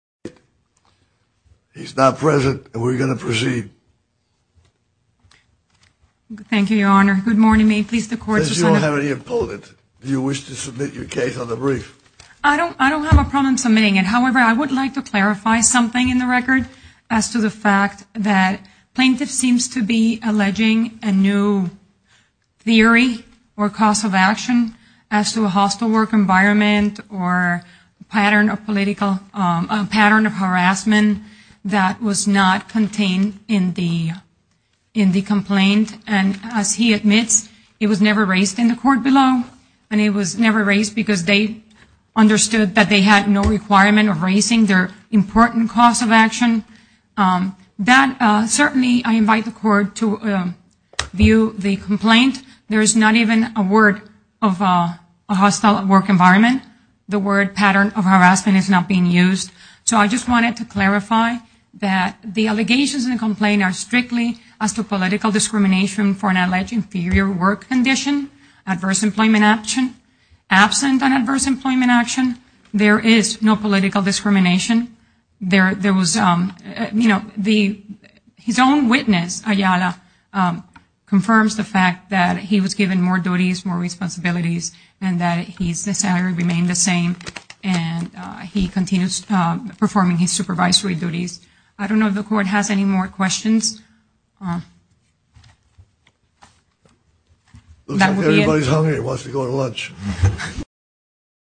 He's not present, and we're going to proceed. Thank you, Your Honor. Good morning. May it please the Court... Since you don't have any opponent, do you wish to submit your case on the brief? I don't have a problem submitting it. However, I would like to clarify something in the record as to the fact that plaintiff seems to be alleging a new theory or cause of action as to a hostile work environment or pattern of harassment that was not contained in the complaint. And as he admits, it was never raised in the court below, and it was never raised because they understood that they had no requirement of raising their important cause of action. Certainly, I invite the Court to view the complaint. There is not even a word of a hostile work environment. The word pattern of harassment is not being used. So I just wanted to clarify that the allegations in the complaint are strictly as to political discrimination for an alleged inferior work condition, adverse employment action. Absent an adverse employment action, there is no political discrimination. His own witness, Ayala, confirms the fact that he was given more duties, more responsibilities, and that his salary remained the same, and he continues performing his supervisory duties. I don't know if the Court has any more questions. Looks like everybody's hungry and wants to go to lunch.